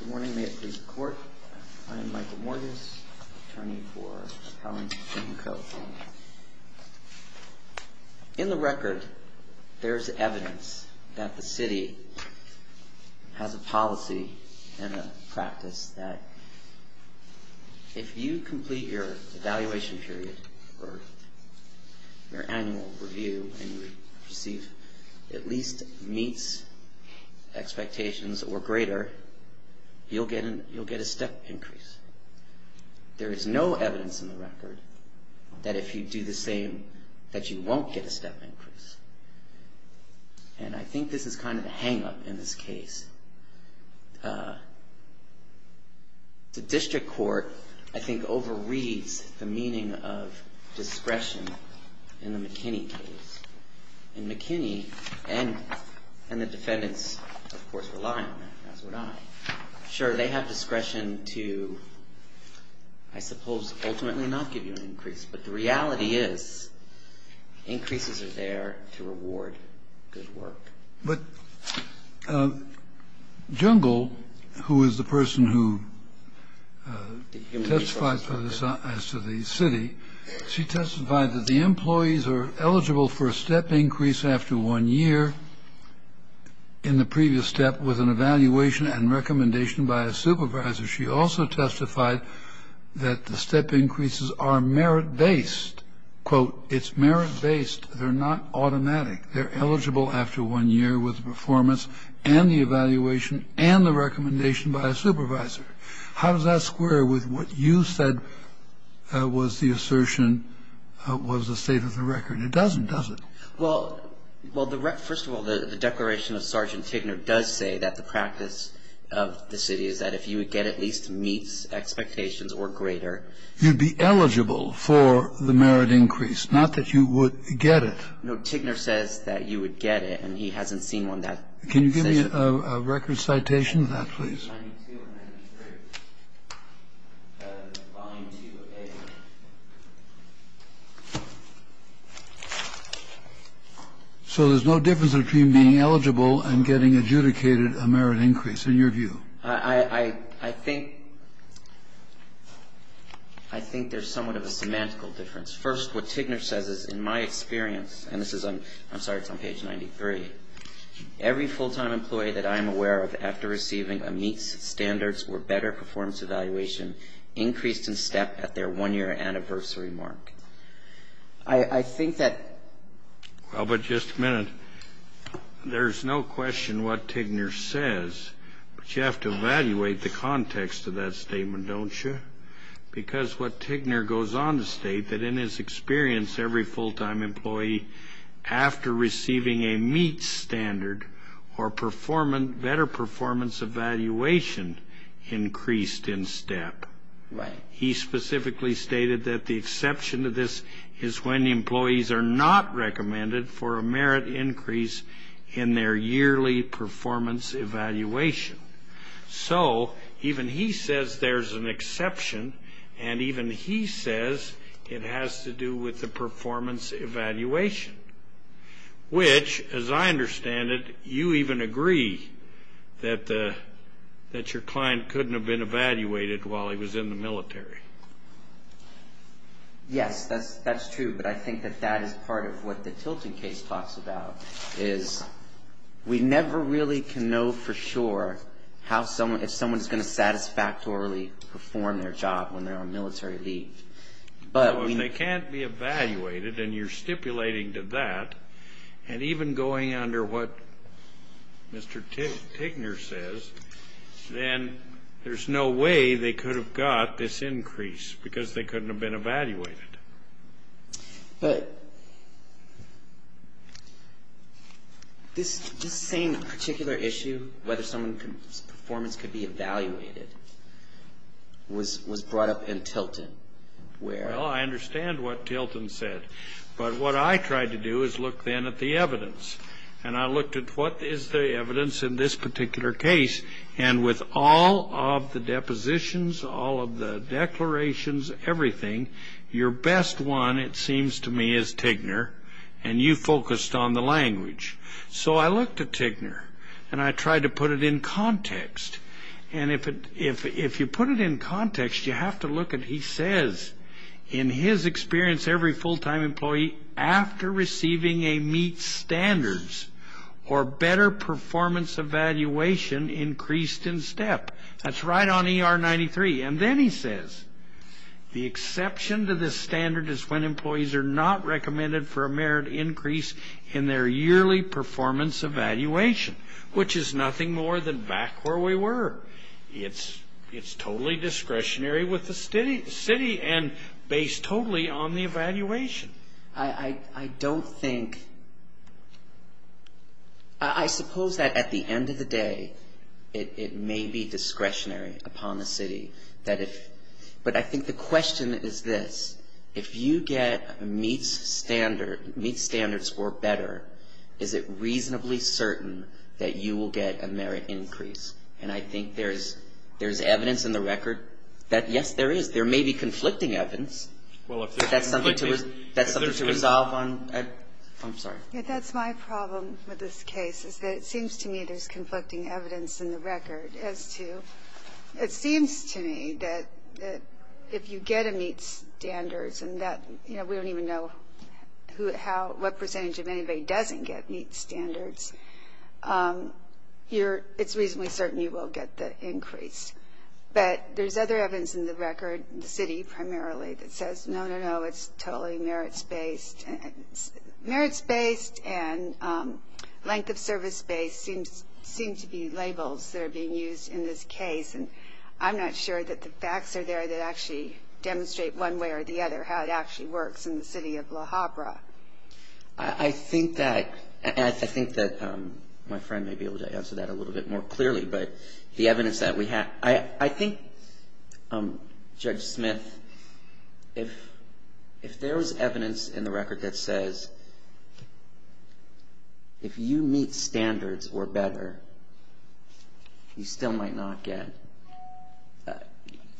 Good morning, may it please the Court. I am Michael Morges, attorney for Mr. Collins and Mr. Ko. In the record, there is evidence that the City has a policy and a practice that if you complete your evaluation period or your annual review and you receive at least meets expectations or greater, you'll get a step increase. There is no evidence in the record that if you do the same that you won't get a step increase. And I think this is kind of a hang-up in this case. The District Court, I think, overreads the meaning of discretion in the McKinney case. And McKinney and the defendants, of course, rely on that, as would I. Sure, they have discretion to, I suppose, ultimately not give you an increase. But the reality is increases are there to reward good work. But Jungle, who is the person who testifies as to the City, she testified that the employees are eligible for a step increase after one year. In the previous step was an evaluation and recommendation by a supervisor. She also testified that the step increases are merit-based. Quote, it's merit-based. They're not automatic. They're eligible after one year with performance and the evaluation and the recommendation by a supervisor. How does that square with what you said was the assertion was the state of the record? It doesn't, does it? Well, first of all, the declaration of Sergeant Tigner does say that the practice of the City is that if you would get at least meets expectations or greater. You'd be eligible for the merit increase, not that you would get it. No, Tigner says that you would get it. And he hasn't seen one that says that. Can you give me a record citation of that, please? Volume 2A. So there's no difference between being eligible and getting adjudicated a merit increase, in your view? I think there's somewhat of a semantical difference. First, what Tigner says is, in my experience, and this is on, I'm sorry, it's on page 93, every full-time employee that I'm aware of after receiving a meets standards or better performance evaluation increased in step at their one-year anniversary mark. I think that. Well, but just a minute. There's no question what Tigner says, but you have to evaluate the context of that statement, don't you? Because what Tigner goes on to state that, in his experience, every full-time employee after receiving a meets standard or better performance evaluation increased in step. Right. He specifically stated that the exception to this is when employees are not recommended for a merit increase in their yearly performance evaluation. So even he says there's an exception, and even he says it has to do with the performance evaluation, which, as I understand it, you even agree that your client couldn't have been evaluated while he was in the military. Yes, that's true, but I think that that is part of what the Tilton case talks about, is we never really can know for sure if someone's going to satisfactorily perform their job when they're on military leave. Well, if they can't be evaluated, and you're stipulating to that, and even going under what Mr. Tigner says, then there's no way they could have got this increase because they couldn't have been evaluated. But this same particular issue, whether someone's performance could be evaluated, was brought up in Tilton, where? Well, I understand what Tilton said, but what I tried to do is look then at the evidence, and I looked at what is the evidence in this particular case, and with all of the depositions, all of the declarations, everything, your best one, it seems to me, is Tigner, and you focused on the language. So I looked at Tigner, and I tried to put it in context. And if you put it in context, you have to look at, he says, in his experience, every full-time employee after receiving a meet standards or better performance evaluation increased in step. That's right on ER 93. And then he says, the exception to this standard is when employees are not recommended for a merit increase in their yearly performance evaluation, which is nothing more than back where we were. It's totally discretionary with the city and based totally on the evaluation. I don't think, I suppose that at the end of the day, it may be discretionary upon the city. But I think the question is this. If you get meet standards or better, is it reasonably certain that you will get a merit increase? And I think there's evidence in the record that, yes, there is. There may be conflicting evidence. But that's something to resolve on. I'm sorry. That's my problem with this case, is that it seems to me there's conflicting evidence in the record as to, it seems to me that if you get a meet standards and that, you know, we don't even know what percentage of anybody doesn't get meet standards, it's reasonably certain you will get the increase. But there's other evidence in the record, the city primarily, that says, no, no, no, it's totally merits-based. Merits-based and length of service-based seem to be labels that are being used in this case. And I'm not sure that the facts are there that actually demonstrate one way or the other how it actually works in the city of La Habra. I think that my friend may be able to answer that a little bit more clearly. But the evidence that we have, I think, Judge Smith, if there was evidence in the record that says, if you meet standards or better, you still might not get,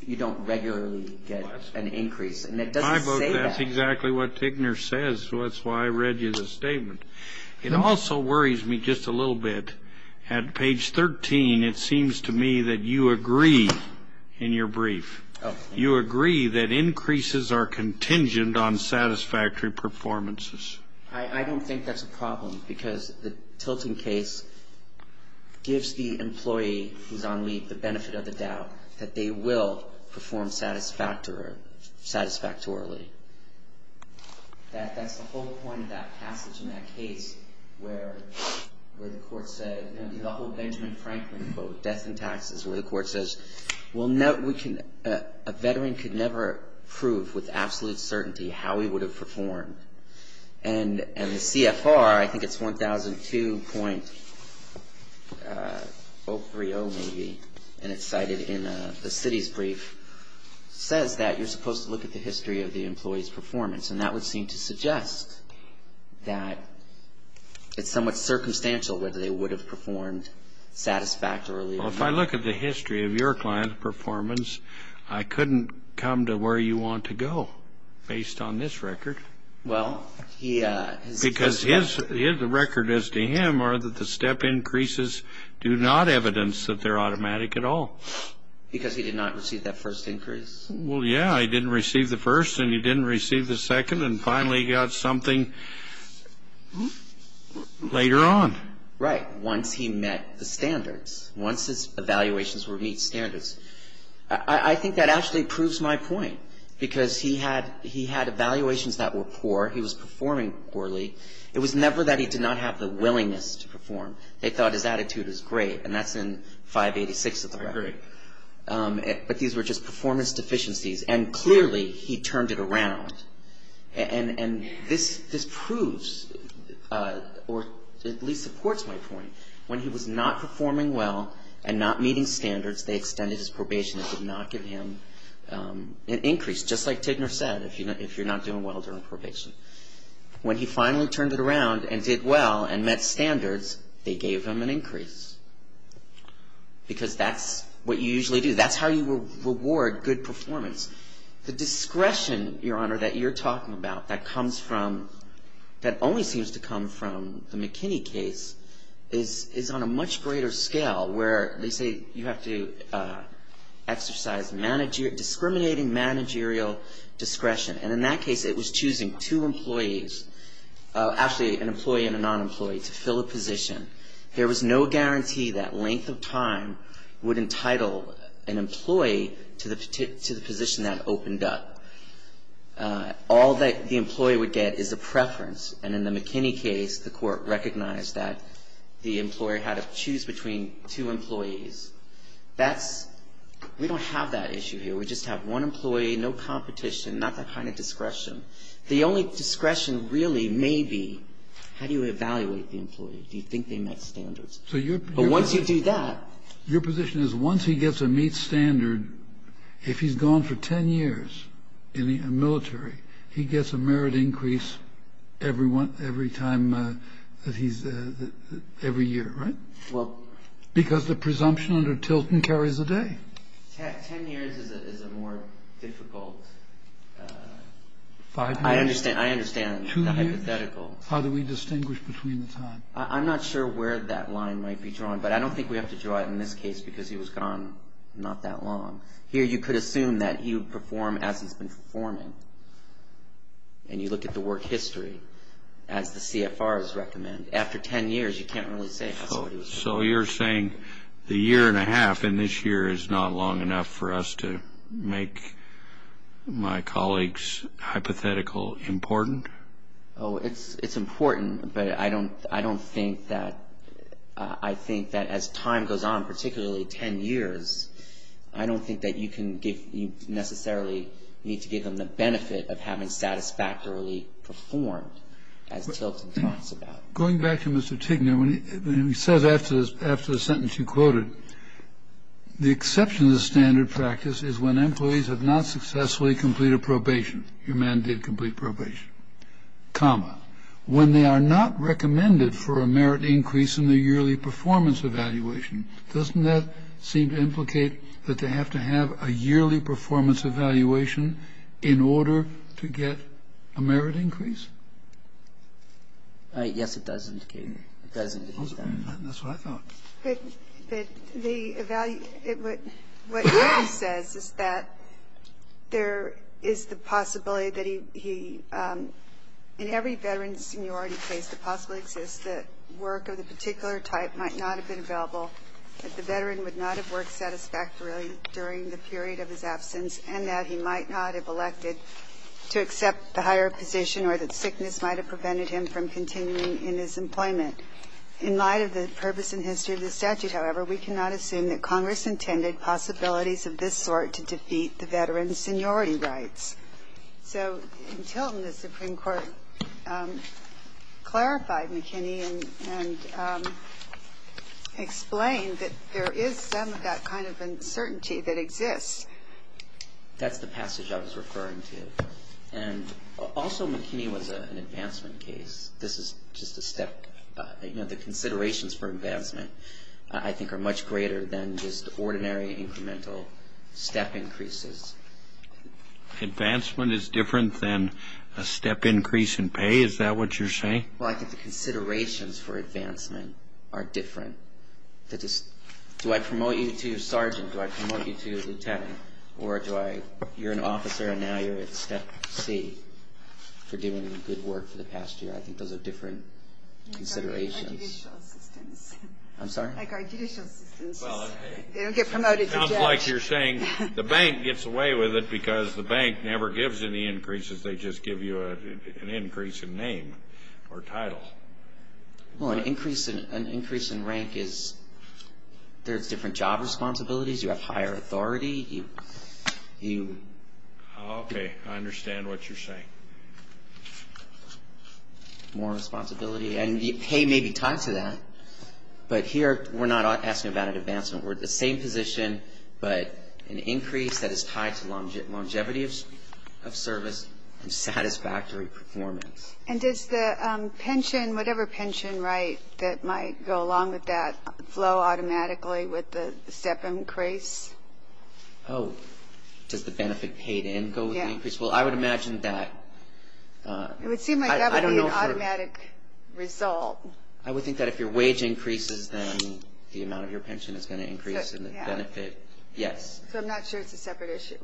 you don't regularly get an increase. And it doesn't say that. I vote that's exactly what Tigner says, so that's why I read you the statement. It also worries me just a little bit. At page 13, it seems to me that you agree in your brief. You agree that increases are contingent on satisfactory performances. I don't think that's a problem because the tilting case gives the employee who's on leave the benefit of the doubt that they will perform satisfactorily. That's the whole point of that passage in that case where the court said, the whole Benjamin Franklin quote, death and taxes, where the court says, a veteran could never prove with absolute certainty how he would have performed. And the CFR, I think it's 1002.030 maybe, and it's cited in the city's brief, says that you're supposed to look at the history of the employee's performance. And that would seem to suggest that it's somewhat circumstantial whether they would have performed satisfactorily or not. Well, if I look at the history of your client's performance, I couldn't come to where you want to go based on this record. Well, he has. Because the record is to him are that the step increases do not evidence that they're automatic at all. Because he did not receive that first increase? Well, yeah. He didn't receive the first and he didn't receive the second and finally got something later on. Right. Once he met the standards, once his evaluations were meet standards. I think that actually proves my point because he had evaluations that were poor. He was performing poorly. It was never that he did not have the willingness to perform. They thought his attitude was great, and that's in 586 of the record. But these were just performance deficiencies. And clearly he turned it around. And this proves or at least supports my point. When he was not performing well and not meeting standards, they extended his probation and did not give him an increase, just like Tigner said, if you're not doing well during probation. When he finally turned it around and did well and met standards, they gave him an increase. Because that's what you usually do. That's how you reward good performance. The discretion, Your Honor, that you're talking about that comes from, that only seems to come from the McKinney case is on a much greater scale where they say you have to exercise discriminating managerial discretion. And in that case, it was choosing two employees, actually an employee and a non-employee, to fill a position. There was no guarantee that length of time would entitle an employee to the position that opened up. All that the employee would get is a preference. And in the McKinney case, the court recognized that the employer had to choose between two employees. That's, we don't have that issue here. We just have one employee, no competition, not that kind of discretion. The only discretion really may be how do you evaluate the employee? Do you think they met standards? But once you do that. Your position is once he gets a meet standard, if he's gone for 10 years in the military, he gets a merit increase every time that he's, every year, right? Well. Because the presumption under Tilton carries a day. Ten years is a more difficult. Five years. I understand. Two years. The hypothetical. How do we distinguish between the time? I'm not sure where that line might be drawn. But I don't think we have to draw it in this case because he was gone not that long. Here you could assume that he would perform as he's been performing. And you look at the work history as the CFRs recommend. After 10 years, you can't really say that's what he was doing. So you're saying the year and a half in this year is not long enough for us to make my colleagues' hypothetical important? Oh, it's important. But I don't think that, I think that as time goes on, particularly 10 years, I don't think that you can give, you necessarily need to give them the benefit of having satisfactorily performed, as Tilton talks about. Going back to Mr. Tigner, he says after the sentence you quoted, the exception to standard practice is when employees have not successfully completed probation. Your man did complete probation. When they are not recommended for a merit increase in the yearly performance evaluation, doesn't that seem to implicate that they have to have a yearly performance evaluation in order to get a merit increase? Yes, it does indicate that. It does indicate that. That's what I thought. But the evaluation, what he says is that there is the possibility that he, in every veteran's seniority case, the possibility exists that work of the particular type might not have been available, that the veteran would not have worked satisfactorily during the period of his absence, and that he might not have elected to accept the higher position or that sickness might have prevented him from continuing in his employment. In light of the purpose and history of the statute, however, we cannot assume that Congress intended possibilities of this sort to defeat the veteran's seniority rights. So in Tilton, the Supreme Court clarified McKinney and explained that there is some of that kind of uncertainty that exists. That's the passage I was referring to. And also McKinney was an advancement case. This is just a step. The considerations for advancement I think are much greater than just ordinary incremental step increases. Advancement is different than a step increase in pay? Is that what you're saying? Well, I think the considerations for advancement are different. Do I promote you to sergeant? Do I promote you to lieutenant? Or you're an officer and now you're at step C for doing good work for the past year? I think those are different considerations. I guard judicial assistants. I'm sorry? I guard judicial assistants. They don't get promoted to judge. It sounds like you're saying the bank gets away with it because the bank never gives any increases. They just give you an increase in name or title. Well, an increase in rank is there's different job responsibilities. You have higher authority. Okay, I understand what you're saying. More responsibility. And pay may be tied to that. But here we're not asking about an advancement. We're at the same position, but an increase that is tied to longevity of service and satisfactory performance. And does the pension, whatever pension, right, that might go along with that, flow automatically with the step increase? Oh, does the benefit paid in go with the increase? Well, I would imagine that. It would seem like that would be an automatic result. I would think that if your wage increases, then the amount of your pension is going to increase in the benefit. Yes. So I'm not sure it's a separate issue.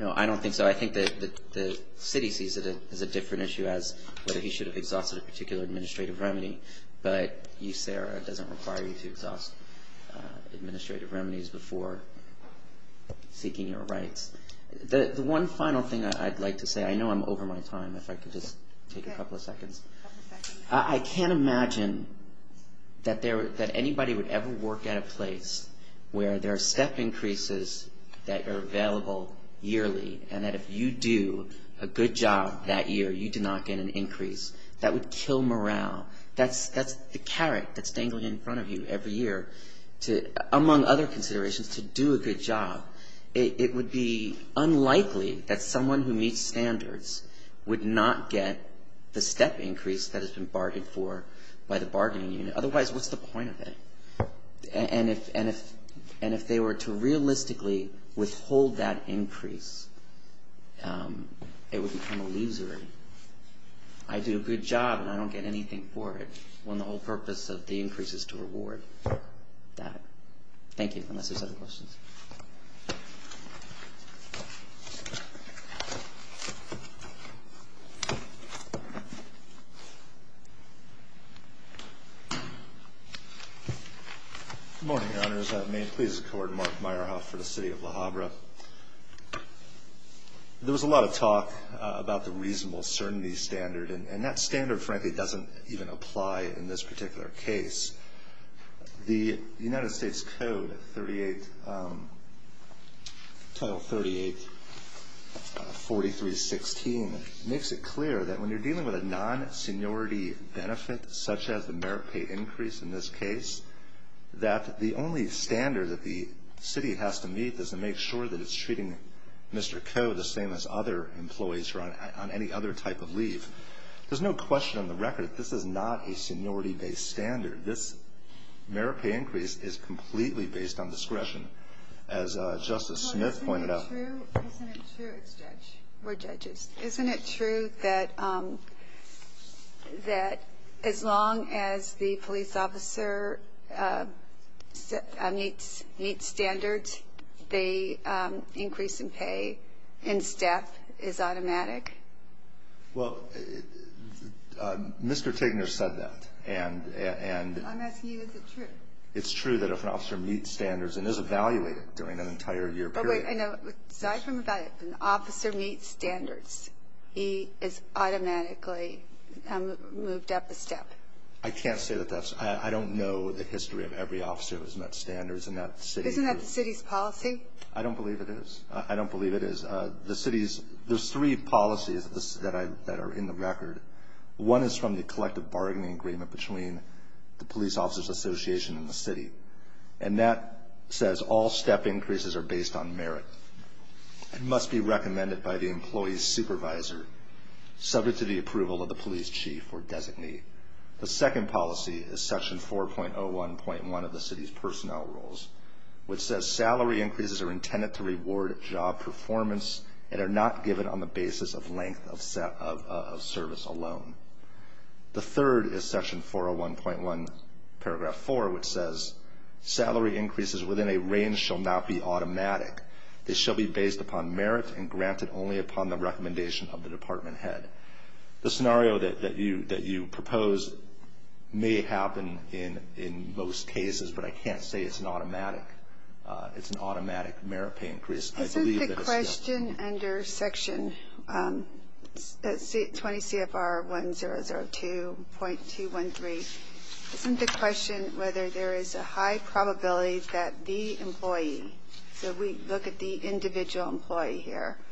No, I don't think so. I think that the city sees it as a different issue as whether he should have exhausted a particular administrative remedy. But USERA doesn't require you to exhaust administrative remedies before seeking your rights. The one final thing I'd like to say, I know I'm over my time. If I could just take a couple of seconds. I can't imagine that anybody would ever work at a place where there are step increases that are available yearly, and that if you do a good job that year, you do not get an increase. That would kill morale. That's the carrot that's dangling in front of you every year, among other considerations, to do a good job. It would be unlikely that someone who meets standards would not get the step increase that has been bargained for by the bargaining unit. Otherwise, what's the point of it? And if they were to realistically withhold that increase, it would become illusory. I do a good job and I don't get anything for it when the whole purpose of the increase is to reward that. Thank you, unless there's other questions. Good morning, Your Honors. May it please the Court, Mark Meyerhoff for the City of Le Havre. There was a lot of talk about the reasonable certainty standard, and that standard, frankly, doesn't even apply in this particular case. The United States Code, Title 38, 4316, makes it clear that when you're dealing with a non-seniority benefit, such as the merit pay increase in this case, that the only standard that the city has to meet is to make sure that it's treating Mr. Coe the same as other employees who are on any other type of leave. There's no question on the record that this is not a seniority-based standard. This merit pay increase is completely based on discretion, as Justice Smith pointed out. Well, isn't it true? Isn't it true? It's judge. We're judges. Isn't it true that as long as the police officer meets standards, the increase in pay in staff is automatic? Well, Mr. Tegner said that, and… I'm asking you, is it true? It's true that if an officer meets standards and is evaluated during an entire year period… But wait, I know. Aside from that, if an officer meets standards, he is automatically moved up a step. I can't say that that's – I don't know the history of every officer who's met standards in that city. Isn't that the city's policy? I don't believe it is. I don't believe it is. There's three policies that are in the record. One is from the collective bargaining agreement between the police officers' association and the city, and that says all step increases are based on merit. It must be recommended by the employee's supervisor, subject to the approval of the police chief or designee. The second policy is Section 4.01.1 of the city's personnel rules, which says salary increases are intended to reward job performance and are not given on the basis of length of service alone. The third is Section 4.01.1, Paragraph 4, which says salary increases within a range shall not be automatic. They shall be based upon merit and granted only upon the recommendation of the department head. The scenario that you propose may happen in most cases, but I can't say it's an automatic. It's an automatic merit pay increase. I believe that it's not. Isn't the question under Section 20 CFR 1002.213, isn't the question whether there is a high probability that the employee – so we look at the individual employee here –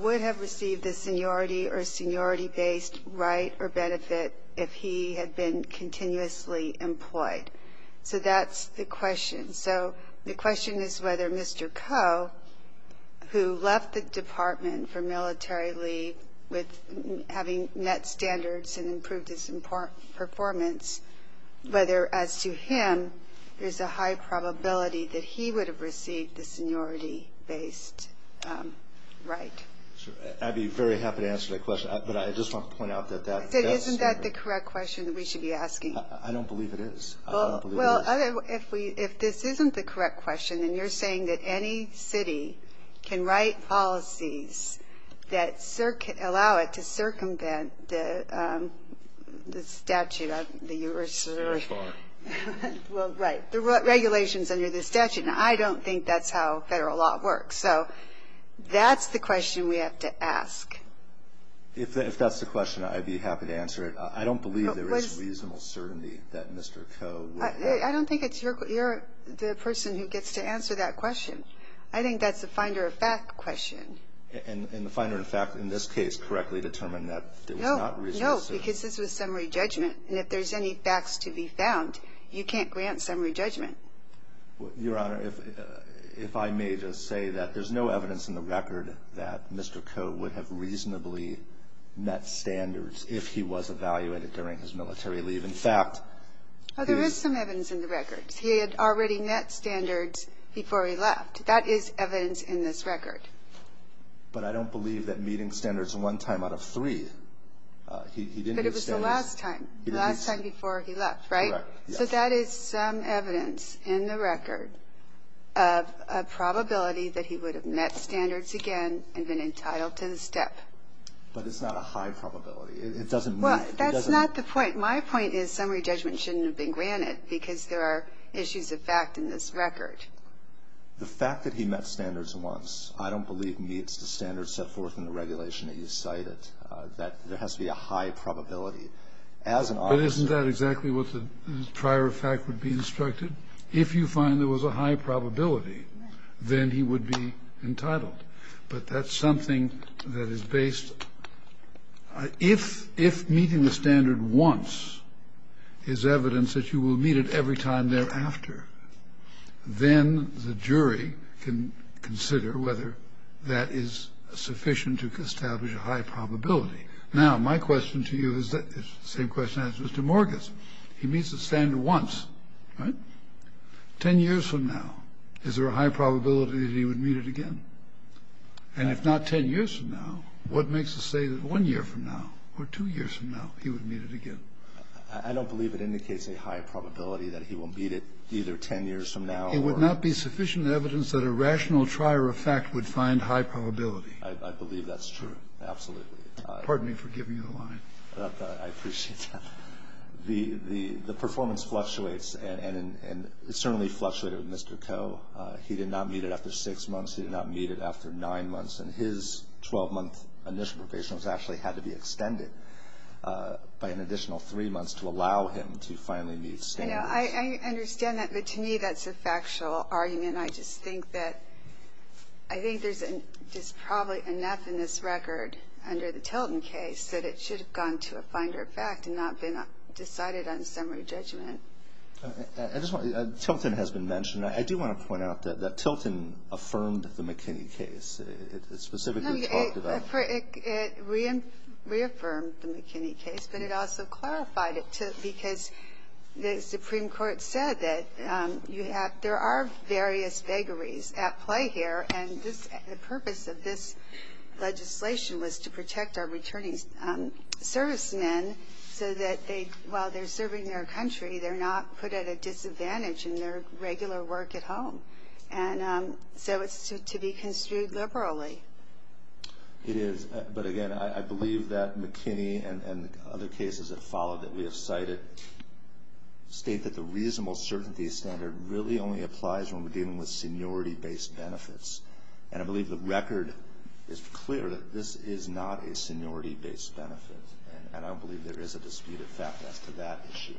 would have received the seniority or seniority-based right or benefit if he had been continuously employed? So that's the question. So the question is whether Mr. Coe, who left the department for military leave with having met standards and improved his performance, whether, as to him, there's a high probability that he would have received the seniority-based right. I'd be very happy to answer that question, but I just want to point out that that's standard. Isn't that the correct question that we should be asking? I don't believe it is. Well, if this isn't the correct question, and you're saying that any city can write policies that allow it to circumvent the statute. Well, right. The regulations under the statute, and I don't think that's how federal law works. So that's the question we have to ask. If that's the question, I'd be happy to answer it. I don't believe there is reasonable certainty that Mr. Coe would have. I don't think it's your question. You're the person who gets to answer that question. I think that's the finder of fact question. And the finder of fact in this case correctly determined that there was not reasonable certainty. No, because this was summary judgment. And if there's any facts to be found, you can't grant summary judgment. Your Honor, if I may just say that there's no evidence in the record that Mr. Coe would have reasonably met standards if he was evaluated during his military leave. Well, there is some evidence in the records. He had already met standards before he left. That is evidence in this record. But I don't believe that meeting standards one time out of three, he didn't meet standards. But it was the last time, the last time before he left, right? Correct, yes. So that is some evidence in the record of a probability that he would have met standards again and been entitled to the step. But it's not a high probability. It doesn't make it. Well, that's not the point. My point is summary judgment shouldn't have been granted because there are issues of fact in this record. The fact that he met standards once, I don't believe meets the standards set forth in the regulation that you cited, that there has to be a high probability. But isn't that exactly what the prior fact would be instructed? If you find there was a high probability, then he would be entitled. But that's something that is based. If meeting the standard once is evidence that you will meet it every time thereafter, then the jury can consider whether that is sufficient to establish a high probability. Now, my question to you is the same question as Mr. Morgan's. He meets the standard once, right? Ten years from now, is there a high probability that he would meet it again? And if not ten years from now, what makes it say that one year from now or two years from now he would meet it again? I don't believe it indicates a high probability that he will meet it either ten years from now or ---- It would not be sufficient evidence that a rational trier of fact would find high probability. I believe that's true, absolutely. Pardon me for giving you the line. I appreciate that. The performance fluctuates, and it certainly fluctuated with Mr. Coe. He did not meet it after six months. He did not meet it after nine months. And his 12-month initial probation was actually had to be extended by an additional three months to allow him to finally meet standards. I understand that, but to me that's a factual argument. I just think that there's probably enough in this record under the Tilton case that it should have gone to a finder of fact and not been decided on summary judgment. Tilton has been mentioned. I do want to point out that Tilton affirmed the McKinney case. It specifically talked about ---- It reaffirmed the McKinney case, but it also clarified it because the Supreme Court said that you have ---- there are various vagaries at play here, and the purpose of this legislation was to protect our returning servicemen so that while they're serving their country, they're not put at a disadvantage in their regular work at home. And so it's to be construed liberally. It is, but again, I believe that McKinney and other cases that follow that we have cited state that the reasonable certainty standard really only applies when we're dealing with seniority-based benefits. And I believe the record is clear that this is not a seniority-based benefit. And I don't believe there is a dispute of fact as to that issue.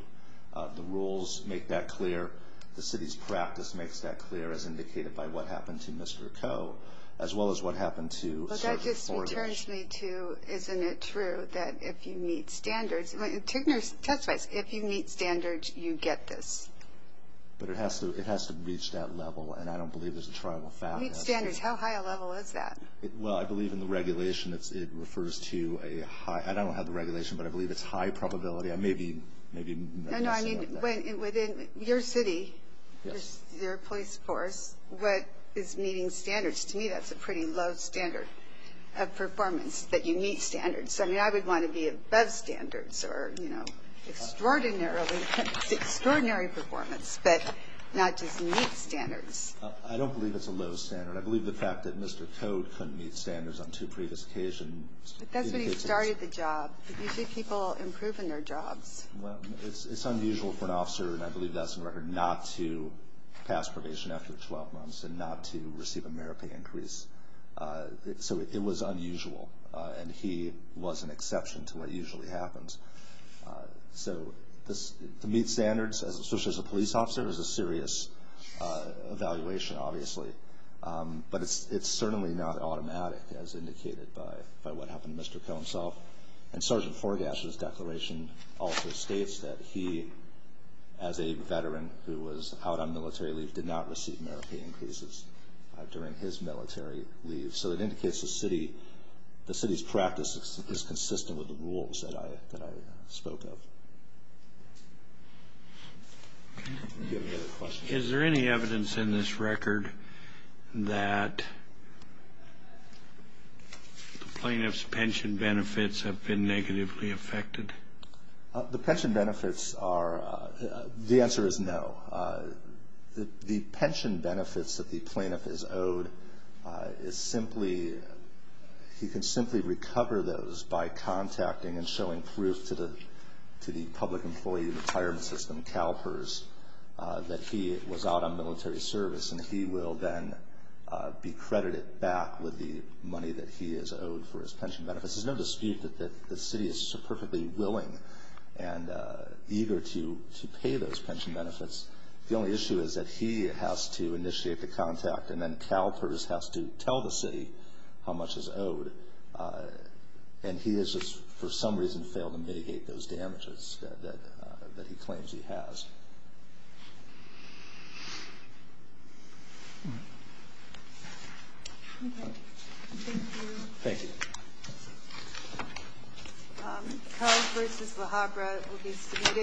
The rules make that clear. The city's practice makes that clear as indicated by what happened to Mr. Coe, as well as what happened to ---- But that just returns me to isn't it true that if you meet standards, if you meet standards, you get this. But it has to reach that level, and I don't believe there's a trial of fact. Meet standards. How high a level is that? Well, I believe in the regulation it refers to a high ---- I don't have the regulation, but I believe it's high probability. I may be ---- No, no. Within your city, your police force, what is meeting standards? To me, that's a pretty low standard of performance, that you meet standards. I mean, I would want to be above standards or, you know, extraordinarily ---- extraordinary performance, but not just meet standards. I don't believe it's a low standard. I believe the fact that Mr. Coe couldn't meet standards on two previous occasions ---- But that's when he started the job. You see people improving their jobs. Well, it's unusual for an officer, and I believe that's in record, not to pass probation after 12 months and not to receive a merit pay increase. So it was unusual, and he was an exception to what usually happens. So to meet standards, especially as a police officer, is a serious evaluation, obviously. But it's certainly not automatic, as indicated by what happened to Mr. Coe himself. And Sergeant Forgass's declaration also states that he, as a veteran who was out on military leave, did not receive merit pay increases during his military leave. So it indicates the city's practice is consistent with the rules that I spoke of. Is there any evidence in this record that the plaintiff's pension benefits have been negatively affected? The pension benefits are ---- the answer is no. The pension benefits that the plaintiff is owed is simply ---- he can simply recover those by contacting and showing proof to the public employee retirement system, CalPERS, that he was out on military service, and he will then be credited back with the money that he is owed for his pension benefits. There's no dispute that the city is perfectly willing and eager to pay those pension benefits. The only issue is that he has to initiate the contact, and then CalPERS has to tell the city how much is owed. And he has just for some reason failed to mitigate those damages that he claims he has. Thank you.